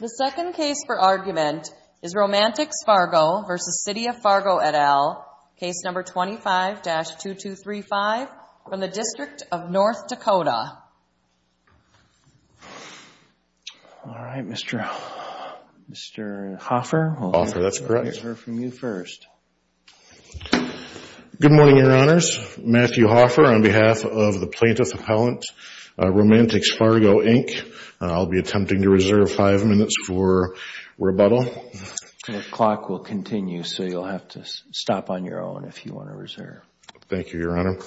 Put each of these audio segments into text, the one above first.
The second case for argument is Romantix-Fargo v. City of Fargo, et al., Case No. 25-2235 from the District of North Dakota. All right, Mr. Hoffer, I'll hear from you first. Good morning, Your Honors. Matthew Hoffer on behalf of the Plaintiff Appellant, Romantix-Fargo, Inc. I'll be attempting to reserve five minutes for rebuttal. The clock will continue, so you'll have to stop on your own if you want to reserve. Thank you, Your Honor.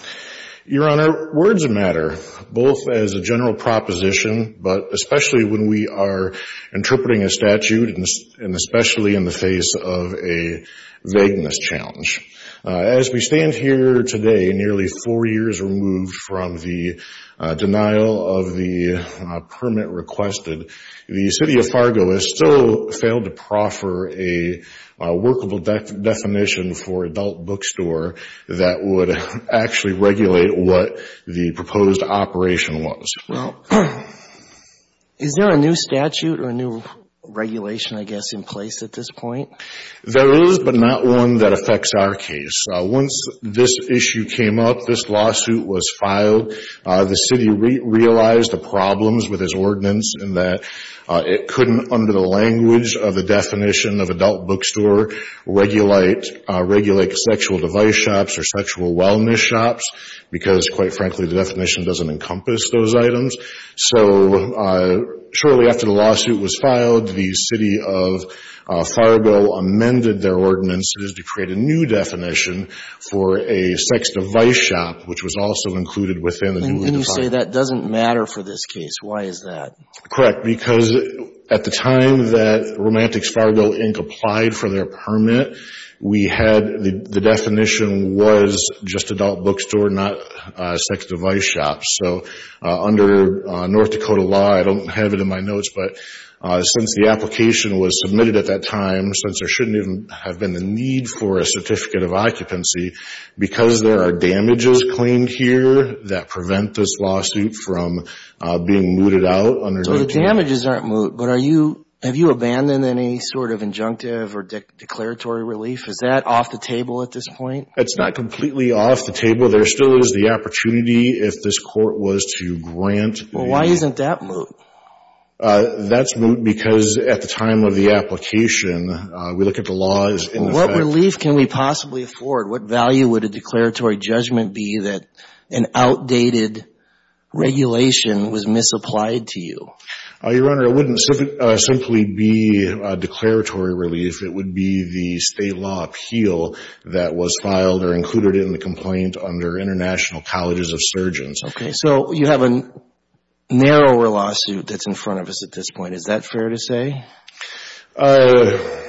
Your Honor, words matter, both as a general proposition, but especially when we are interpreting a statute, and especially in the face of a vagueness challenge. As we stand here today, nearly four years removed from the denial of the permit requested, the City of Fargo has still failed to proffer a workable definition for adult bookstore that would actually regulate what the proposed operation was. Well, is there a new statute or a new regulation, I guess, in place at this point? There is, but not one that affects our case. Once this issue came up, this lawsuit was filed, the City realized the problems with its ordinance in that it couldn't, under the language of the definition of adult bookstore, regulate sexual device shops or sexual wellness shops, because, quite frankly, the definition doesn't encompass those items. So shortly after the lawsuit was filed, the City of Fargo amended their ordinance to create a new definition for a sex device shop, which was also included within the new definition. And you say that doesn't matter for this case. Why is that? Correct, because at the time that Romantics Fargo, Inc. applied for their permit, we had the definition was just adult bookstore, not sex device shops. So under North Dakota law, I don't have it in my notes, but since the application was submitted at that time, since there shouldn't even have been the need for a certificate of occupancy, because there are damages claimed here that prevent this lawsuit from being mooted out. So the damages aren't moot, but have you abandoned any sort of injunctive or declaratory relief? Is that off the table at this point? It's not completely off the table. There still is the opportunity if this court was to grant. Well, why isn't that moot? That's moot because at the time of the application, we look at the laws. What relief can we possibly afford? What value would a declaratory judgment be that an outdated regulation was misapplied to you? Your Honor, it wouldn't simply be declaratory relief. It would be the state law appeal that was filed or included in the complaint under International Colleges of Surgeons. So you have a narrower lawsuit that's in front of us at this point. Is that fair to say? I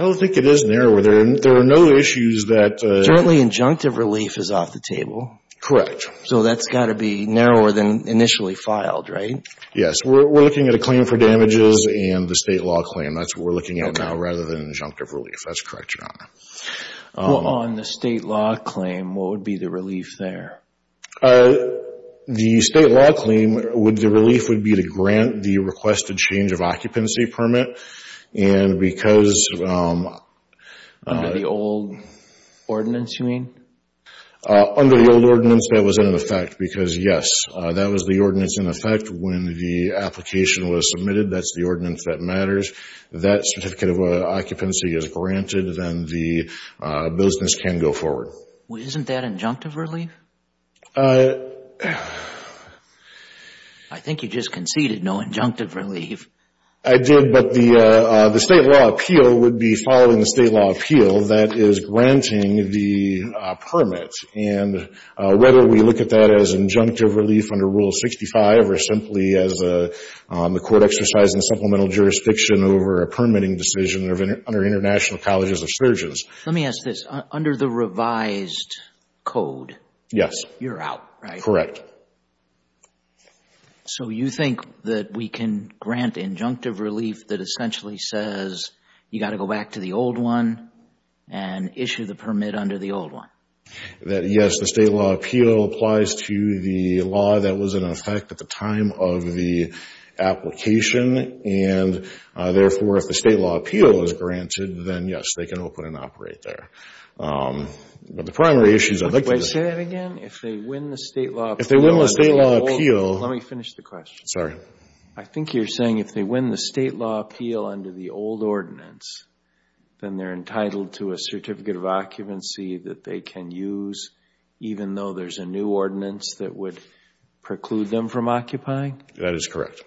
don't think it is narrower. There are no issues that— Currently, injunctive relief is off the table. Correct. So that's got to be narrower than initially filed, right? Yes. We're looking at a claim for damages and the state law claim. That's what we're looking at now rather than injunctive relief. That's correct, Your Honor. On the state law claim, what would be the relief there? The state law claim, the relief would be to grant the requested change of occupancy permit. And because— Under the old ordinance, you mean? Under the old ordinance, that was in effect because, yes, that was the ordinance in effect. When the application was submitted, that's the ordinance that matters. That certificate of occupancy is granted. Then the business can go forward. Isn't that injunctive relief? I think you just conceded no injunctive relief. I did. But the state law appeal would be following the state law appeal that is granting the permit. And whether we look at that as injunctive relief under Rule 65 or simply as the court exercising supplemental jurisdiction over a permitting decision under International Colleges of Surgeons. Let me ask this. Under the revised code— Yes. You're out, right? Correct. So you think that we can grant injunctive relief that essentially says you got to go back to the old one and issue the permit under the old one? That, yes, the state law appeal applies to the law that was in effect at the time of the application. And, therefore, if the state law appeal is granted, then, yes, they can open and operate there. But the primary issue is— Can I say that again? If they win the state law appeal— If they win the state law appeal— Let me finish the question. Sorry. I think you're saying if they win the state law appeal under the old ordinance, then they're entitled to a certificate of occupancy that they can use even though there's a new ordinance that would preclude them from occupying? That is correct.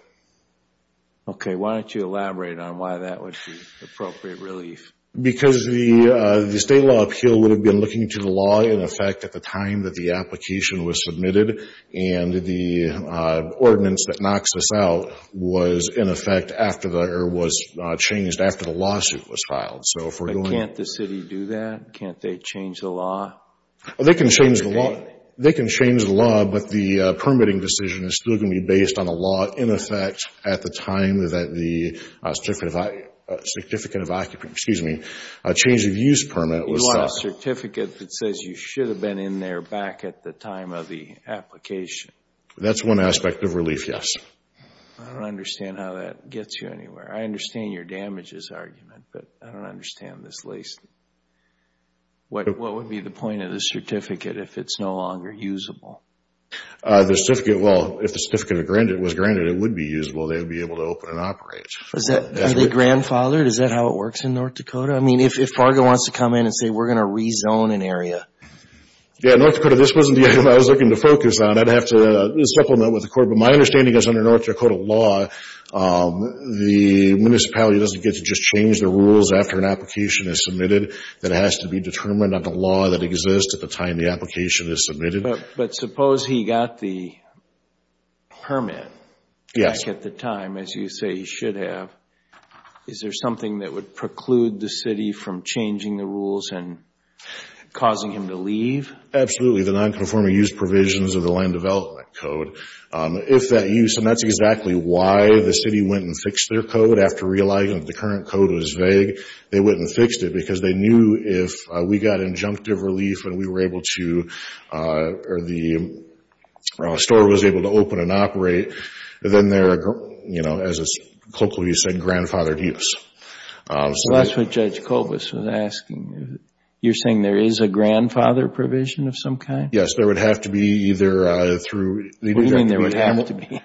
Okay. Why don't you elaborate on why that would be appropriate relief? Because the state law appeal would have been looking to the law in effect at the time that the application was submitted, and the ordinance that knocks this out was changed after the lawsuit was filed. Can't the city do that? Can't they change the law? They can change the law, but the permitting decision is still going to be based on the law in effect at the time that the certificate of occupancy—excuse me, change of use permit was— You lost a certificate that says you should have been in there back at the time of the application. That's one aspect of relief, yes. I don't understand how that gets you anywhere. I understand your damages argument, but I don't understand this lease. What would be the point of the certificate if it's no longer usable? The certificate, well, if the certificate was granted, it would be usable. They would be able to open and operate. Are they grandfathered? Is that how it works in North Dakota? I mean, if Fargo wants to come in and say, we're going to rezone an area. Yeah, North Dakota, this wasn't the area I was looking to focus on. I'd have to supplement with the court, but my understanding is under North Dakota law, the municipality doesn't get to just change the rules after an application is submitted. That has to be determined on the law that exists at the time the application is submitted. But suppose he got the permit back at the time, as you say he should have. Is there something that would preclude the city from changing the rules and causing him to leave? Absolutely. The non-conforming use provisions of the land development code. If that use, and that's exactly why the city went and fixed their code after realizing the current code was vague, they went and fixed it because they knew if we got injunctive relief and we were able to or the store was able to open and operate, then they're, you know, as it's colloquially said, grandfathered use. So that's what Judge Kobus was asking. You're saying there is a grandfather provision of some kind? Yes, there would have to be either through... What do you mean there would have to be?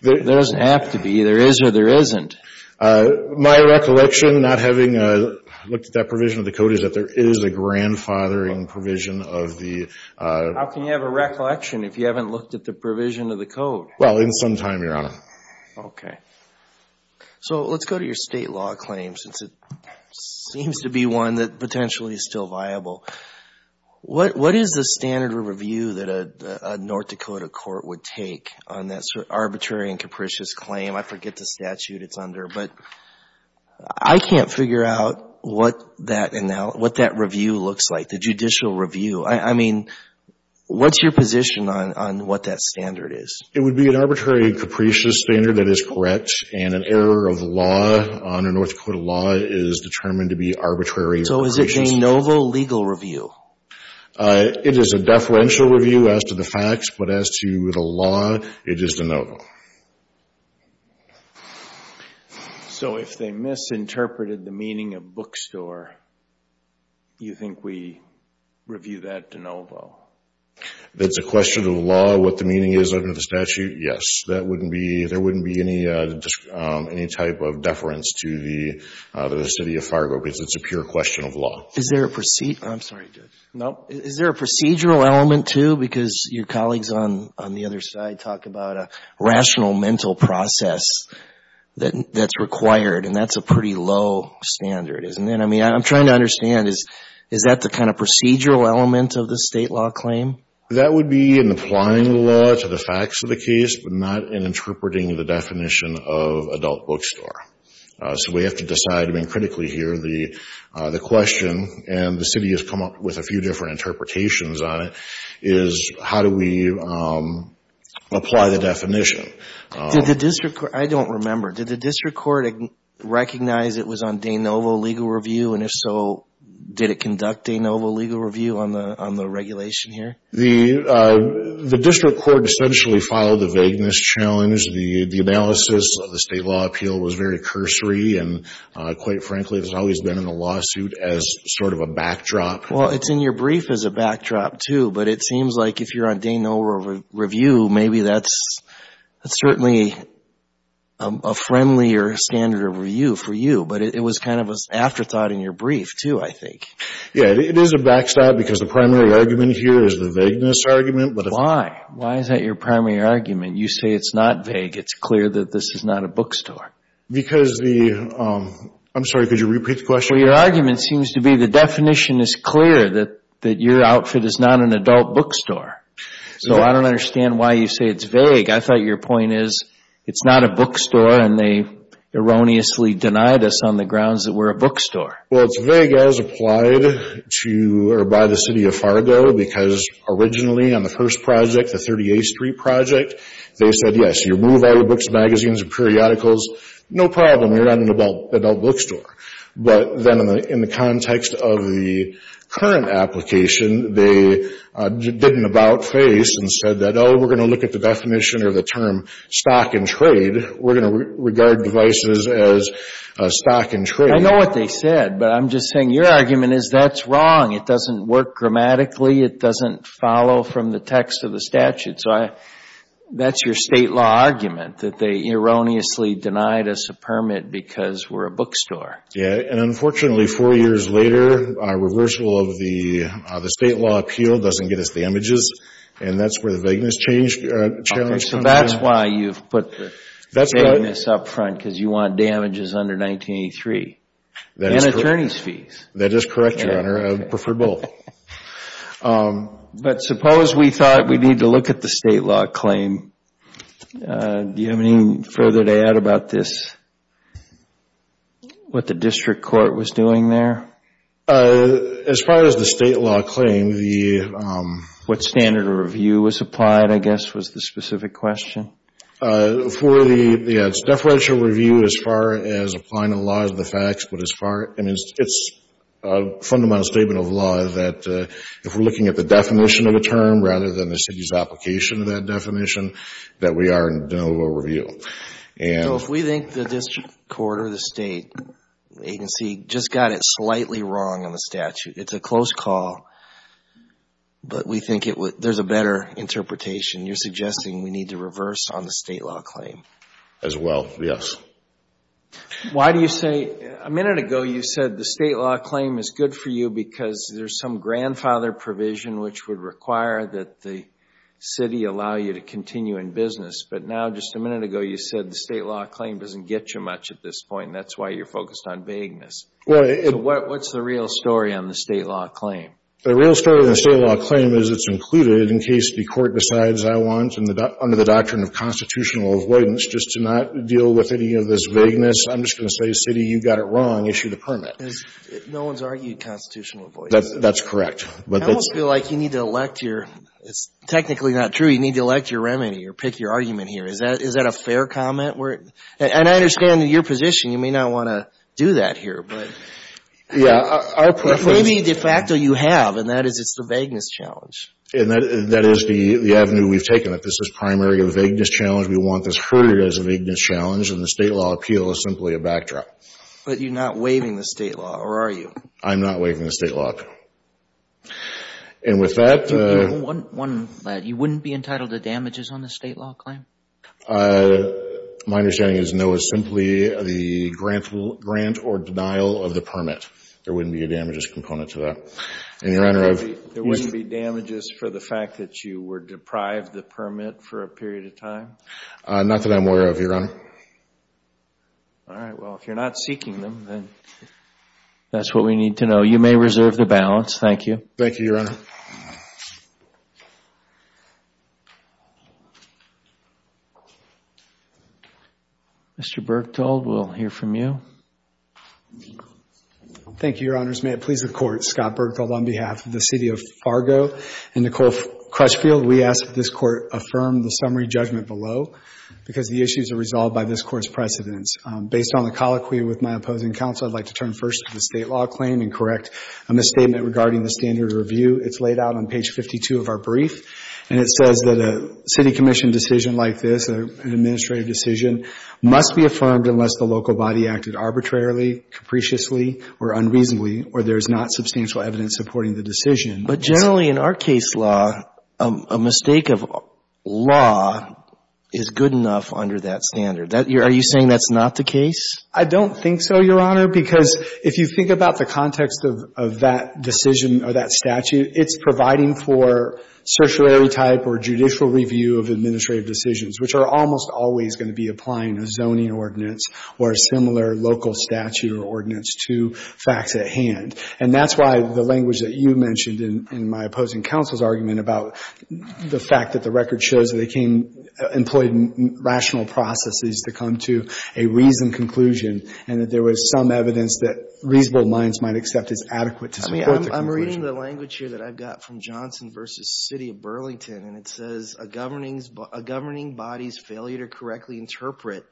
There doesn't have to be. There is or there isn't. My recollection, not having looked at that provision of the code, is that there is a grandfathering provision of the... How can you have a recollection if you haven't looked at the provision of the code? Well, in some time, Your Honor. Okay. So let's go to your state law claim since it seems to be one that potentially is still viable. What is the standard review that a North Dakota court would take on that arbitrary and capricious claim? I forget the statute it's under, but I can't figure out what that review looks like, the judicial review. I mean, what's your position on what that standard is? It would be an arbitrary and capricious standard that is correct, and an error of law under North Dakota law is determined to be arbitrary and capricious. So is it de novo legal review? It is a deferential review as to the facts, but as to the law, it is de novo. So if they misinterpreted the meaning of bookstore, you think we review that de novo? It's a question of law, what the meaning is under the statute? Yes. There wouldn't be any type of deference to the city of Fargo because it's a pure question of law. Is there a procedural element too? Because your colleagues on the other side talk about a rational mental process that's required, and that's a pretty low standard, isn't it? I mean, I'm trying to understand, is that the kind of procedural element of the state law claim? That would be in applying the law to the facts of the case, but not in interpreting the definition of adult bookstore. So we have to decide, I mean, critically here, the question, and the city has come up with a few different interpretations on it, is how do we apply the definition? I don't remember. Did the district court recognize it was on de novo legal review, and if so, did it conduct de novo legal review on the regulation here? The district court essentially followed the vagueness challenge. The analysis of the state law appeal was very cursory, and quite frankly, it's always been in the lawsuit as sort of a backdrop. Well, it's in your brief as a backdrop too, but it seems like if you're on de novo review, maybe that's certainly a friendlier standard of review for you, but it was kind of an afterthought in your brief too, I think. Yeah, it is a backstop because the primary argument here is the vagueness argument. Why? Why is that your primary argument? You say it's not vague. It's clear that this is not a bookstore. Because the – I'm sorry, could you repeat the question? Well, your argument seems to be the definition is clear, that your outfit is not an adult bookstore. So I don't understand why you say it's vague. I thought your point is it's not a bookstore, and they erroneously denied us on the grounds that we're a bookstore. Well, it's vague as applied to or by the City of Fargo because originally on the first project, the 38th Street project, they said, yes, you remove all your books, magazines, and periodicals, no problem, you're not an adult bookstore. But then in the context of the current application, they did an about-face and said that, oh, we're going to look at the definition or the term stock and trade. We're going to regard devices as stock and trade. I know what they said, but I'm just saying your argument is that's wrong. It doesn't work grammatically. It doesn't follow from the text of the statute. So that's your state law argument, that they erroneously denied us a permit because we're a bookstore. Yeah, and unfortunately, four years later, our reversal of the state law appeal doesn't get us the images, and that's where the vagueness challenge comes in. So that's why you've put the vagueness up front because you want damages under 1983 and attorney's fees. That is correct, Your Honor. I would prefer both. But suppose we thought we need to look at the state law claim. Do you have any further to add about this, what the district court was doing there? As far as the state law claim, the- What standard of review was applied, I guess, was the specific question. For the deferential review as far as applying the laws of the facts, it's a fundamental statement of law that if we're looking at the definition of a term rather than the city's application of that definition, that we are in denial of review. So if we think the district court or the state agency just got it slightly wrong on the statute, it's a close call, but we think there's a better interpretation. You're suggesting we need to reverse on the state law claim. As well, yes. Why do you say- A minute ago, you said the state law claim is good for you because there's some grandfather provision which would require that the city allow you to continue in business. But now, just a minute ago, you said the state law claim doesn't get you much at this point, and that's why you're focused on vagueness. What's the real story on the state law claim? The real story on the state law claim is it's included in case the court decides I want, under the doctrine of constitutional avoidance, just to not deal with any of this vagueness. I'm just going to say, city, you got it wrong. Issue the permit. No one's argued constitutional avoidance. That's correct. I almost feel like you need to elect your- It's technically not true. You need to elect your remedy or pick your argument here. Is that a fair comment? And I understand your position. You may not want to do that here, but- Yeah, our preference- Maybe de facto you have, and that is it's the vagueness challenge. And that is the avenue we've taken. This is primarily a vagueness challenge. We want this heard as a vagueness challenge, and the state law appeal is simply a backdrop. But you're not waiving the state law, or are you? I'm not waiving the state law. And with that- One, you wouldn't be entitled to damages on the state law claim? My understanding is no, it's simply the grant or denial of the permit. There wouldn't be a damages component to that. And, Your Honor, I've- There wouldn't be damages for the fact that you were deprived the permit for a period of time? Not that I'm aware of, Your Honor. All right. Well, if you're not seeking them, then that's what we need to know. You may reserve the balance. Thank you. Thank you, Your Honor. Mr. Bergthold, we'll hear from you. Thank you, Your Honors. May it please the Court, Scott Bergthold on behalf of the City of Fargo and Nicole Crutchfield, we ask that this Court affirm the summary judgment below because the issues are resolved by this Court's precedents. Based on the colloquy with my opposing counsel, I'd like to turn first to the state law claim and correct a misstatement regarding the standard review. It's laid out on page 52 of our brief, and it says that a city commission decision like this, an administrative decision, must be affirmed unless the local body acted arbitrarily, capriciously, or unreasonably, or there's not substantial evidence supporting the decision. But generally in our case law, a mistake of law is good enough under that standard. Are you saying that's not the case? I don't think so, Your Honor, because if you think about the context of that decision or that statute, it's providing for certiorari type or judicial review of administrative decisions, which are almost always going to be applying a zoning ordinance or a similar local statute or ordinance to facts at hand. And that's why the language that you mentioned in my opposing counsel's argument about the fact that the record shows that it can employ rational processes to come to a reasoned conclusion and that there was some evidence that reasonable minds might accept is adequate to support the conclusion. I mean, I'm reading the language here that I've got from Johnson v. City of Burlington, and it says, a governing body's failure to correctly interpret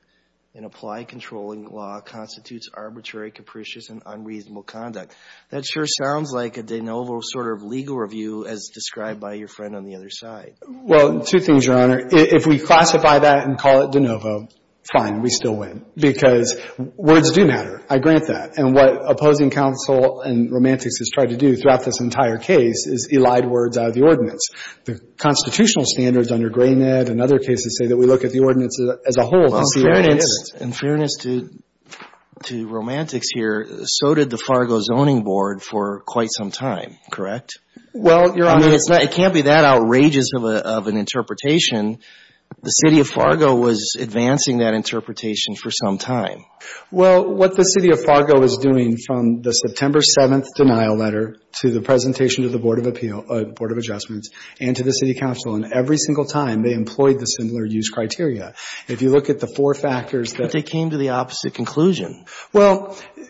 and apply controlling law constitutes arbitrary, capricious, and unreasonable conduct. That sure sounds like a de novo sort of legal review as described by your friend on the other side. Well, two things, Your Honor. If we classify that and call it de novo, fine, we still win, because words do matter. I grant that. And what opposing counsel and romantics has tried to do throughout this entire case is elide words out of the ordinance. The constitutional standards under Gray-Ned and other cases say that we look at the ordinance as a whole. Well, in fairness to romantics here, so did the Fargo Zoning Board for quite some time, correct? Well, Your Honor. I mean, it can't be that outrageous of an interpretation. The City of Fargo was advancing that interpretation for some time. Well, what the City of Fargo is doing from the September 7th denial letter to the presentation to the Board of Adjustments and to the City Council, and every single time they employed the similar use criteria. If you look at the four factors that But they came to the opposite conclusion. Well, Your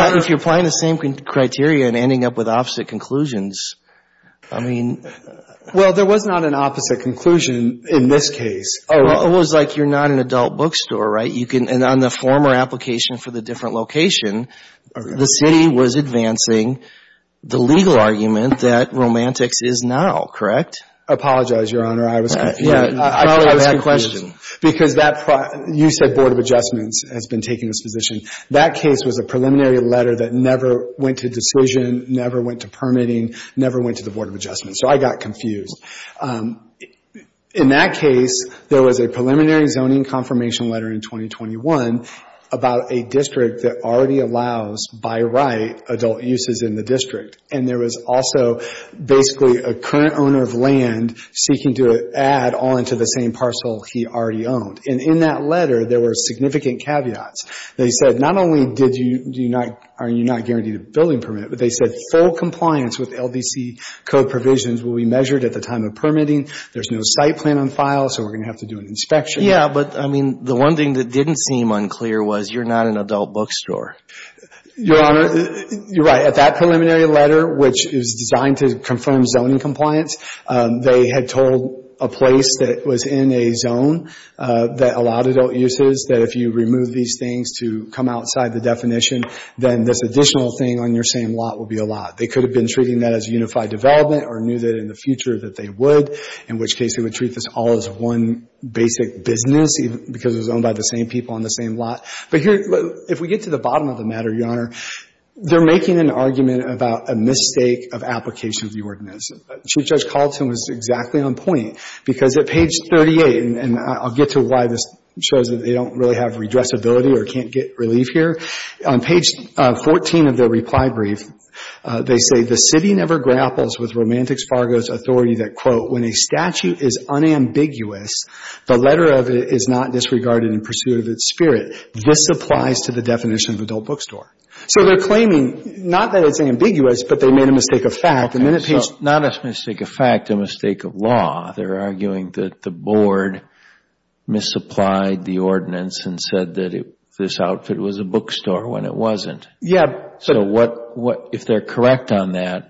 Honor. If you're applying the same criteria and ending up with opposite conclusions, I mean Well, there was not an opposite conclusion in this case. It was like you're not an adult bookstore, right? You can, and on the former application for the different location, the City was advancing the legal argument that romantics is now, correct? I apologize, Your Honor. I was confused. Yeah, I probably had a question. Because that, you said Board of Adjustments has been taking this position. That case was a preliminary letter that never went to decision, never went to permitting, never went to the Board of Adjustments, so I got confused. In that case, there was a preliminary zoning confirmation letter in 2021 about a district that already allows, by right, adult uses in the district. And there was also basically a current owner of land seeking to add on to the same parcel he already owned. And in that letter, there were significant caveats. They said not only are you not guaranteed a building permit, but they said full compliance with LDC code provisions will be measured at the time of permitting. There's no site plan on file, so we're going to have to do an inspection. Yeah, but, I mean, the one thing that didn't seem unclear was you're not an adult bookstore. Your Honor, you're right. At that preliminary letter, which is designed to confirm zoning compliance, they had told a place that was in a zone that allowed adult uses, that if you remove these things to come outside the definition, then this additional thing on your same lot will be a lot. They could have been treating that as unified development or knew that in the future that they would, in which case they would treat this all as one basic business because it was owned by the same people on the same lot. But here, if we get to the bottom of the matter, Your Honor, they're making an argument about a mistake of application of the ordinance. Chief Judge Carlson was exactly on point because at page 38, and I'll get to why this shows that they don't really have redressability or can't get relief here, on page 14 of their reply brief, they say the city never grapples with Romantics Fargo's authority that, quote, when a statute is unambiguous, the letter of it is not disregarded in pursuit of its spirit. This applies to the definition of adult bookstore. So they're claiming not that it's ambiguous, but they made a mistake of fact. Not a mistake of fact, a mistake of law. They're arguing that the board misapplied the ordinance and said that this outfit was a bookstore when it wasn't. So if they're correct on that,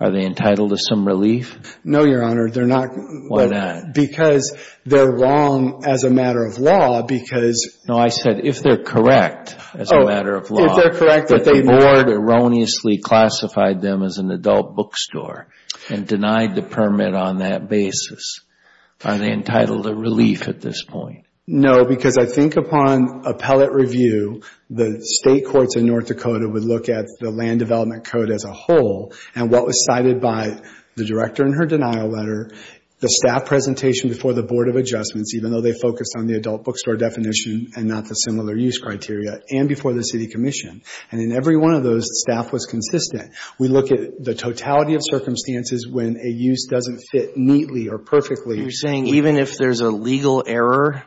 are they entitled to some relief? No, Your Honor. They're not. Why not? Because they're wrong as a matter of law because... No, I said if they're correct as a matter of law. Oh, if they're correct. But the board erroneously classified them as an adult bookstore and denied the permit on that basis. Are they entitled to relief at this point? No, because I think upon appellate review, the state courts in North Dakota would look at the Land Development Code as a whole and what was cited by the director in her denial letter, the staff presentation before the Board of Adjustments, even though they focused on the adult bookstore definition and not the similar use criteria, and before the city commission. And in every one of those, the staff was consistent. We look at the totality of circumstances when a use doesn't fit neatly or perfectly. You're saying even if there's a legal error,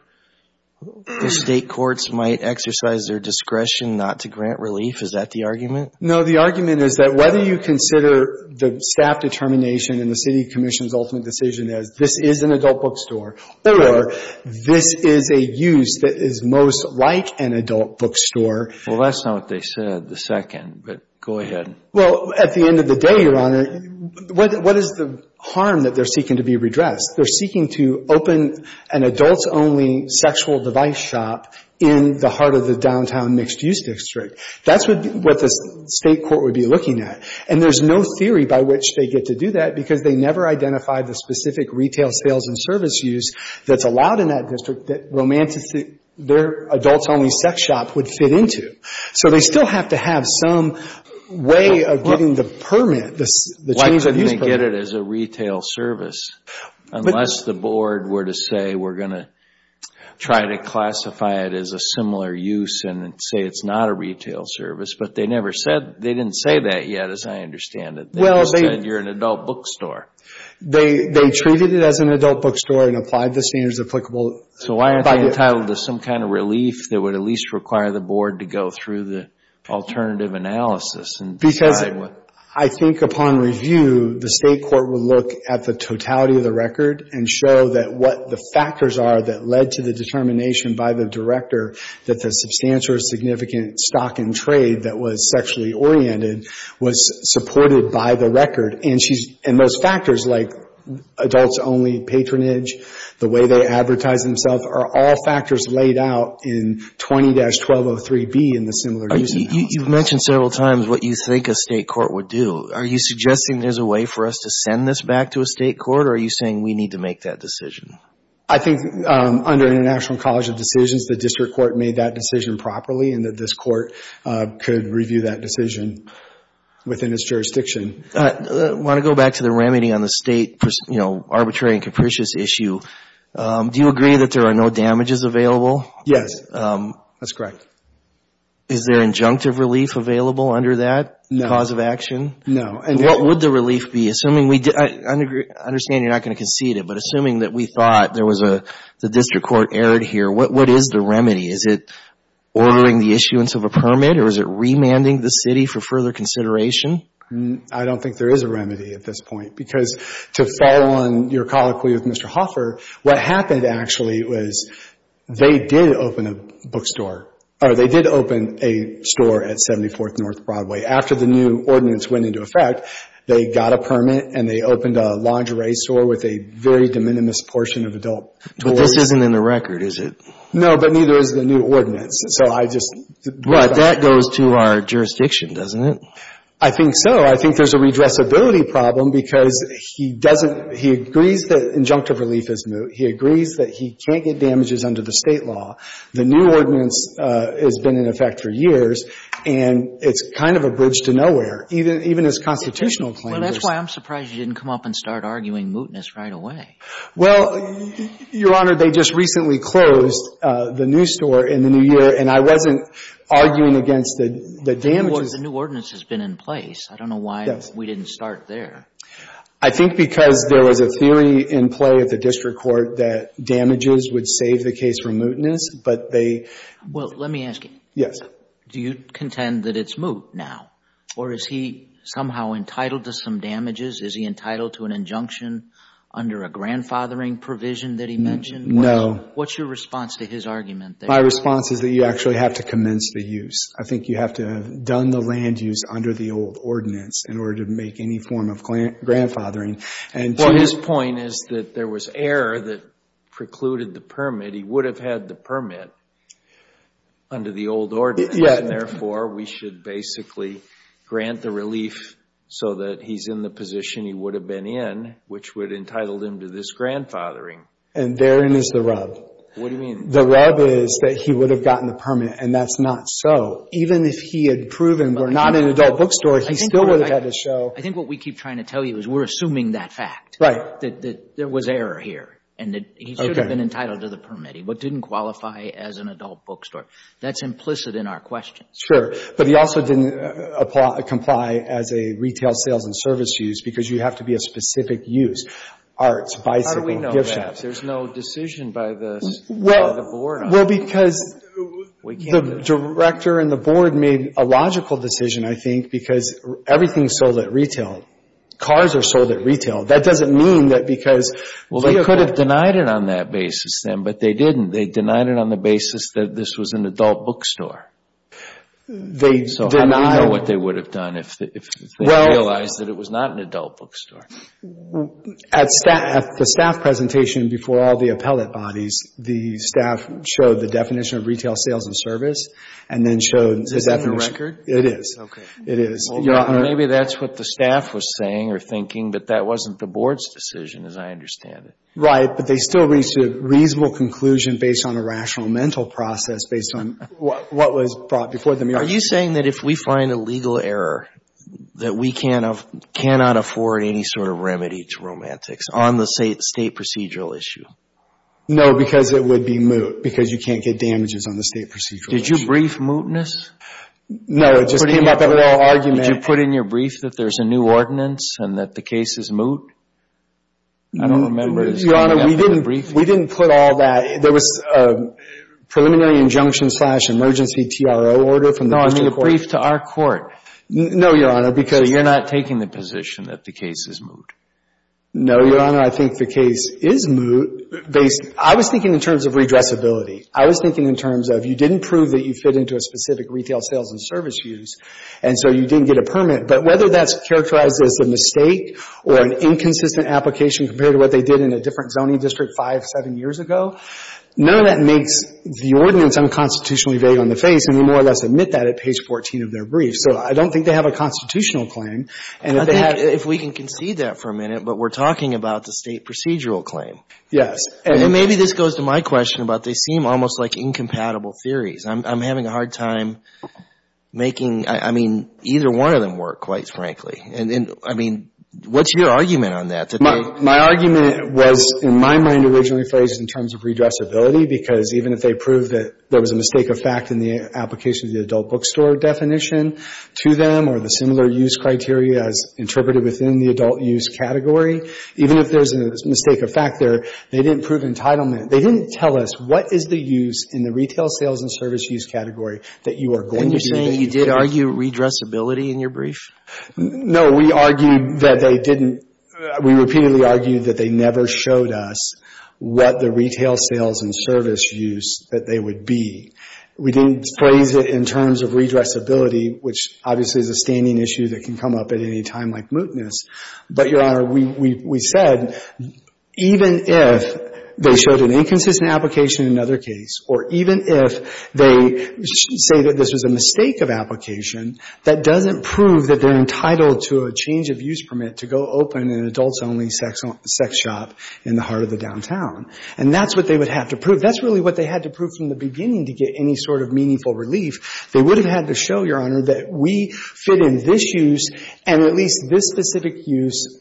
the state courts might exercise their discretion not to grant relief? Is that the argument? No, the argument is that whether you consider the staff determination and the city commission's ultimate decision as this is an adult bookstore or this is a use that is most like an adult bookstore. Well, that's not what they said the second, but go ahead. Well, at the end of the day, Your Honor, what is the harm that they're seeking to be redressed? They're seeking to open an adults-only sexual device shop in the heart of the downtown mixed-use district. That's what the state court would be looking at. And there's no theory by which they get to do that because they never identified the specific retail sales and service use that's allowed in that district that romantically their adults-only sex shop would fit into. So they still have to have some way of getting the permit. Why couldn't they get it as a retail service unless the board were to say we're going to try to classify it as a similar use and say it's not a retail service? But they didn't say that yet as I understand it. They just said you're an adult bookstore. They treated it as an adult bookstore and applied the standards applicable. So why aren't they entitled to some kind of relief that would at least require the board to go through the alternative analysis? Because I think upon review, the state court will look at the totality of the record and show that what the factors are that led to the determination by the director that the substantial or significant stock in trade that was sexually oriented was supported by the record. And most factors like adults-only patronage, the way they advertise themselves are all factors laid out in 20-1203B in the similar use analysis. You've mentioned several times what you think a state court would do. Are you suggesting there's a way for us to send this back to a state court or are you saying we need to make that decision? I think under International College of Decisions, the district court made that decision properly and that this court could review that decision within its jurisdiction. I want to go back to the remedy on the state arbitrary and capricious issue. Do you agree that there are no damages available? Yes, that's correct. Is there injunctive relief available under that cause of action? No. What would the relief be? I understand you're not going to concede it, but assuming that we thought the district court erred here, what is the remedy? Is it ordering the issuance of a permit or is it remanding the city for further consideration? I don't think there is a remedy at this point because to follow on your colloquy with Mr. Hoffer, what happened actually was they did open a bookstore or they did open a store at 74th North Broadway. After the new ordinance went into effect, they got a permit and they opened a lingerie store with a very de minimis portion of adult toys. But this isn't in the record, is it? No, but neither is the new ordinance. So I just — But that goes to our jurisdiction, doesn't it? I think so. I think there's a redressability problem because he doesn't — he agrees that injunctive relief is moot. He agrees that he can't get damages under the State law. The new ordinance has been in effect for years, and it's kind of a bridge to nowhere, even his constitutional claim. Well, that's why I'm surprised you didn't come up and start arguing mootness right away. Well, Your Honor, they just recently closed the new store in the new year, and I wasn't arguing against the damages. The new ordinance has been in place. I don't know why we didn't start there. I think because there was a theory in play at the district court that damages would save the case from mootness, but they — Well, let me ask you. Yes. Do you contend that it's moot now? Or is he somehow entitled to some damages? Is he entitled to an injunction under a grandfathering provision that he mentioned? What's your response to his argument there? My response is that you actually have to commence the use. I think you have to have done the land use under the old ordinance in order to make any form of grandfathering. Well, his point is that there was error that precluded the permit. He would have had the permit under the old ordinance, and therefore we should basically grant the relief so that he's in the position he would have been in, which would have entitled him to this grandfathering. And therein is the rub. What do you mean? The rub is that he would have gotten the permit, and that's not so. Even if he had proven we're not an adult bookstore, he still would have had to show — I think what we keep trying to tell you is we're assuming that fact. Right. That there was error here, and that he should have been entitled to the permit. He didn't qualify as an adult bookstore. That's implicit in our questions. But he also didn't comply as a retail sales and service use because you have to be a specific use, arts, bicycle, gift shops. How do we know that? There's no decision by the board on that. Well, because the director and the board made a logical decision, I think, because everything is sold at retail. Cars are sold at retail. That doesn't mean that because — Well, they could have denied it on that basis then, but they didn't. They denied it on the basis that this was an adult bookstore. They denied — So how do we know what they would have done if they realized that it was not an adult bookstore? At the staff presentation before all the appellate bodies, the staff showed the definition of retail sales and service and then showed — Is that in the record? It is. Okay. It is. Maybe that's what the staff was saying or thinking, but that wasn't the board's decision as I understand it. Right, but they still reached a reasonable conclusion based on a rational mental process, based on what was brought before them. Are you saying that if we find a legal error, that we cannot afford any sort of remedy to romantics on the state procedural issue? No, because it would be moot because you can't get damages on the state procedural issue. Did you brief mootness? No, it just came up in our argument. Did you put in your brief that there's a new ordinance and that the case is moot? I don't remember. Your Honor, we didn't put all that. There was a preliminary injunction slash emergency TRO order from the district court. No, I mean a brief to our court. No, Your Honor, because — So you're not taking the position that the case is moot. No, Your Honor, I think the case is moot. I was thinking in terms of redressability. I was thinking in terms of you didn't prove that you fit into a specific retail sales and service use, and so you didn't get a permit. But whether that's characterized as a mistake or an inconsistent application compared to what they did in a different zoning district five, seven years ago, none of that makes the ordinance unconstitutionally vague on the face, and we more or less admit that at page 14 of their brief. So I don't think they have a constitutional claim. I think, if we can concede that for a minute, but we're talking about the state procedural claim. Yes. And maybe this goes to my question about they seem almost like incompatible theories. I'm having a hard time making, I mean, either one of them work, quite frankly. And, I mean, what's your argument on that? My argument was, in my mind, originally phrased in terms of redressability because even if they proved that there was a mistake of fact in the application of the adult bookstore definition to them or the similar use criteria as interpreted within the adult use category, even if there's a mistake of fact there, they didn't prove entitlement. They didn't tell us what is the use in the retail sales and service use category that you are going to be using. And you're saying you did argue redressability in your brief? No. We argued that they didn't. We repeatedly argued that they never showed us what the retail sales and service use that they would be. We didn't phrase it in terms of redressability, which obviously is a standing issue that can come up at any time like mootness. But, Your Honor, we said even if they showed an inconsistent application in another case or even if they say that this was a mistake of application, that doesn't prove that they're entitled to a change of use permit to go open an adults-only sex shop in the heart of the downtown. And that's what they would have to prove. That's really what they had to prove from the beginning to get any sort of meaningful relief. They would have had to show, Your Honor, that we fit in this use and at least this specific use,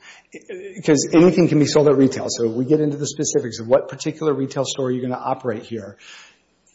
because anything can be sold at retail. So we get into the specifics of what particular retail store you're going to operate here.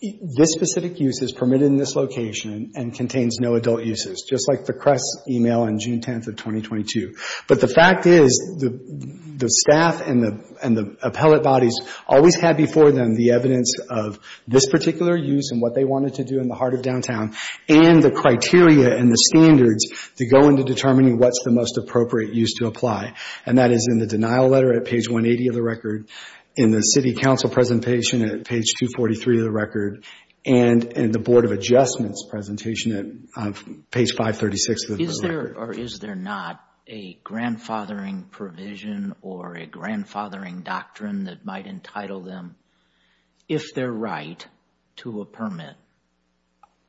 This specific use is permitted in this location and contains no adult uses, just like the Kress email on June 10th of 2022. But the fact is the staff and the appellate bodies always had before them the evidence of this particular use and what they wanted to do in the heart of downtown and the criteria and the standards to go into determining what's the most appropriate use to apply. And that is in the denial letter at page 180 of the record, in the City Council presentation at page 243 of the record, and in the Board of Adjustments presentation at page 536 of the record. Is there or is there not a grandfathering provision or a grandfathering doctrine that might entitle them, if they're right, to a permit?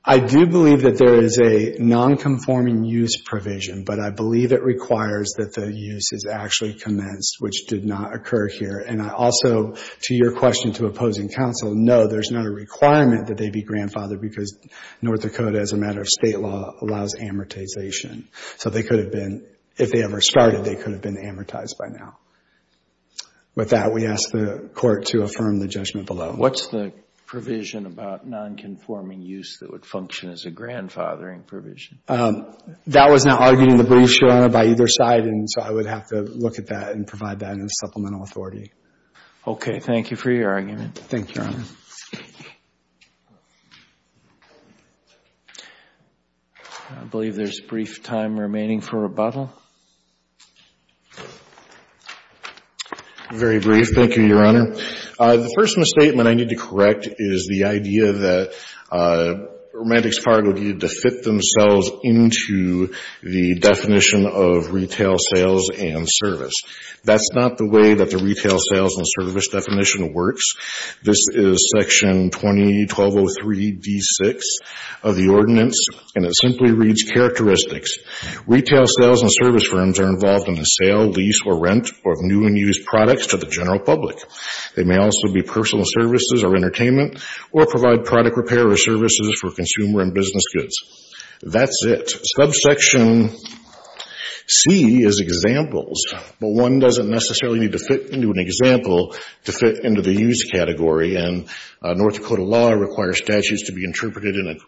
I do believe that there is a non-conforming use provision, but I believe it requires that the use is actually commenced, which did not occur here. And I also, to your question to opposing counsel, know there's not a requirement that they be grandfathered because North Dakota, as a matter of state law, allows amortization. So they could have been, if they ever started, they could have been amortized by now. With that, we ask the Court to affirm the judgment below. What's the provision about non-conforming use that would function as a grandfathering provision? That was not argued in the briefs, Your Honor, by either side, and so I would have to look at that and provide that in a supplemental authority. Okay. Thank you for your argument. Thank you, Your Honor. I believe there's brief time remaining for rebuttal. Very brief. Thank you, Your Honor. The first misstatement I need to correct is the idea that Romantics Cargo needed to fit themselves into the definition of retail sales and service. That's not the way that the retail sales and service definition works. This is Section 20-1203-D6 of the ordinance, and it simply reads characteristics. Retail sales and service firms are involved in the sale, lease, or rent of new and used products to the general public. They may also be personal services or entertainment or provide product repair or services for consumer and business goods. That's it. Subsection C is examples, but one doesn't necessarily need to fit into an example to fit into the used category, and North Dakota law requires statutes to be interpreted in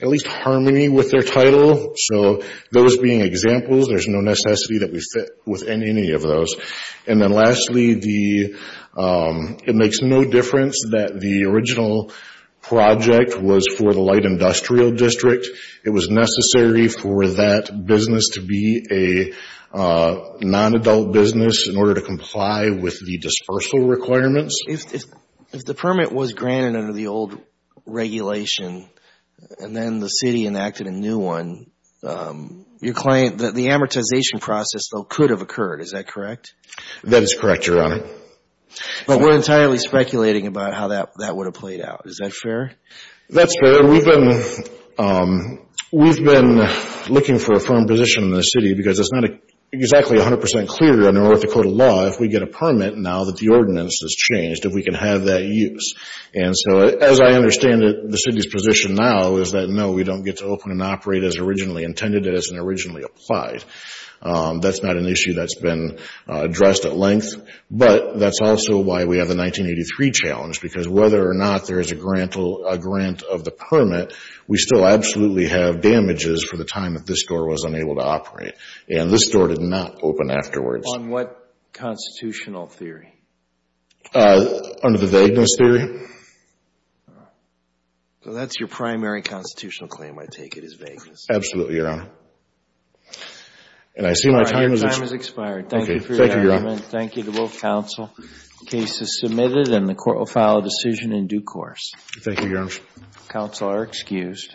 at least harmony with their title, so those being examples, there's no necessity that we fit within any of those. Lastly, it makes no difference that the original project was for the light industrial district. It was necessary for that business to be a non-adult business in order to comply with the dispersal requirements. If the permit was granted under the old regulation and then the city enacted a new one, the amortization process, though, could have occurred. Is that correct? That is correct, Your Honor. But we're entirely speculating about how that would have played out. Is that fair? That's fair. We've been looking for a firm position in the city because it's not exactly 100% clear under North Dakota law if we get a permit now that the ordinance has changed, if we can have that use. As I understand it, the city's position now is that, no, we don't get to open and operate as originally intended and as originally applied. That's not an issue that's been addressed at length, but that's also why we have the 1983 challenge because whether or not there is a grant of the permit, we still absolutely have damages for the time that this door was unable to operate, and this door did not open afterwards. On what constitutional theory? Under the vagueness theory. So that's your primary constitutional claim, I take it, is vagueness. Absolutely, Your Honor. And I see my time has expired. Your time has expired. Thank you for your argument. Thank you to both counsel. The case is submitted and the court will file a decision in due course. Thank you, Your Honor. Counsel are excused.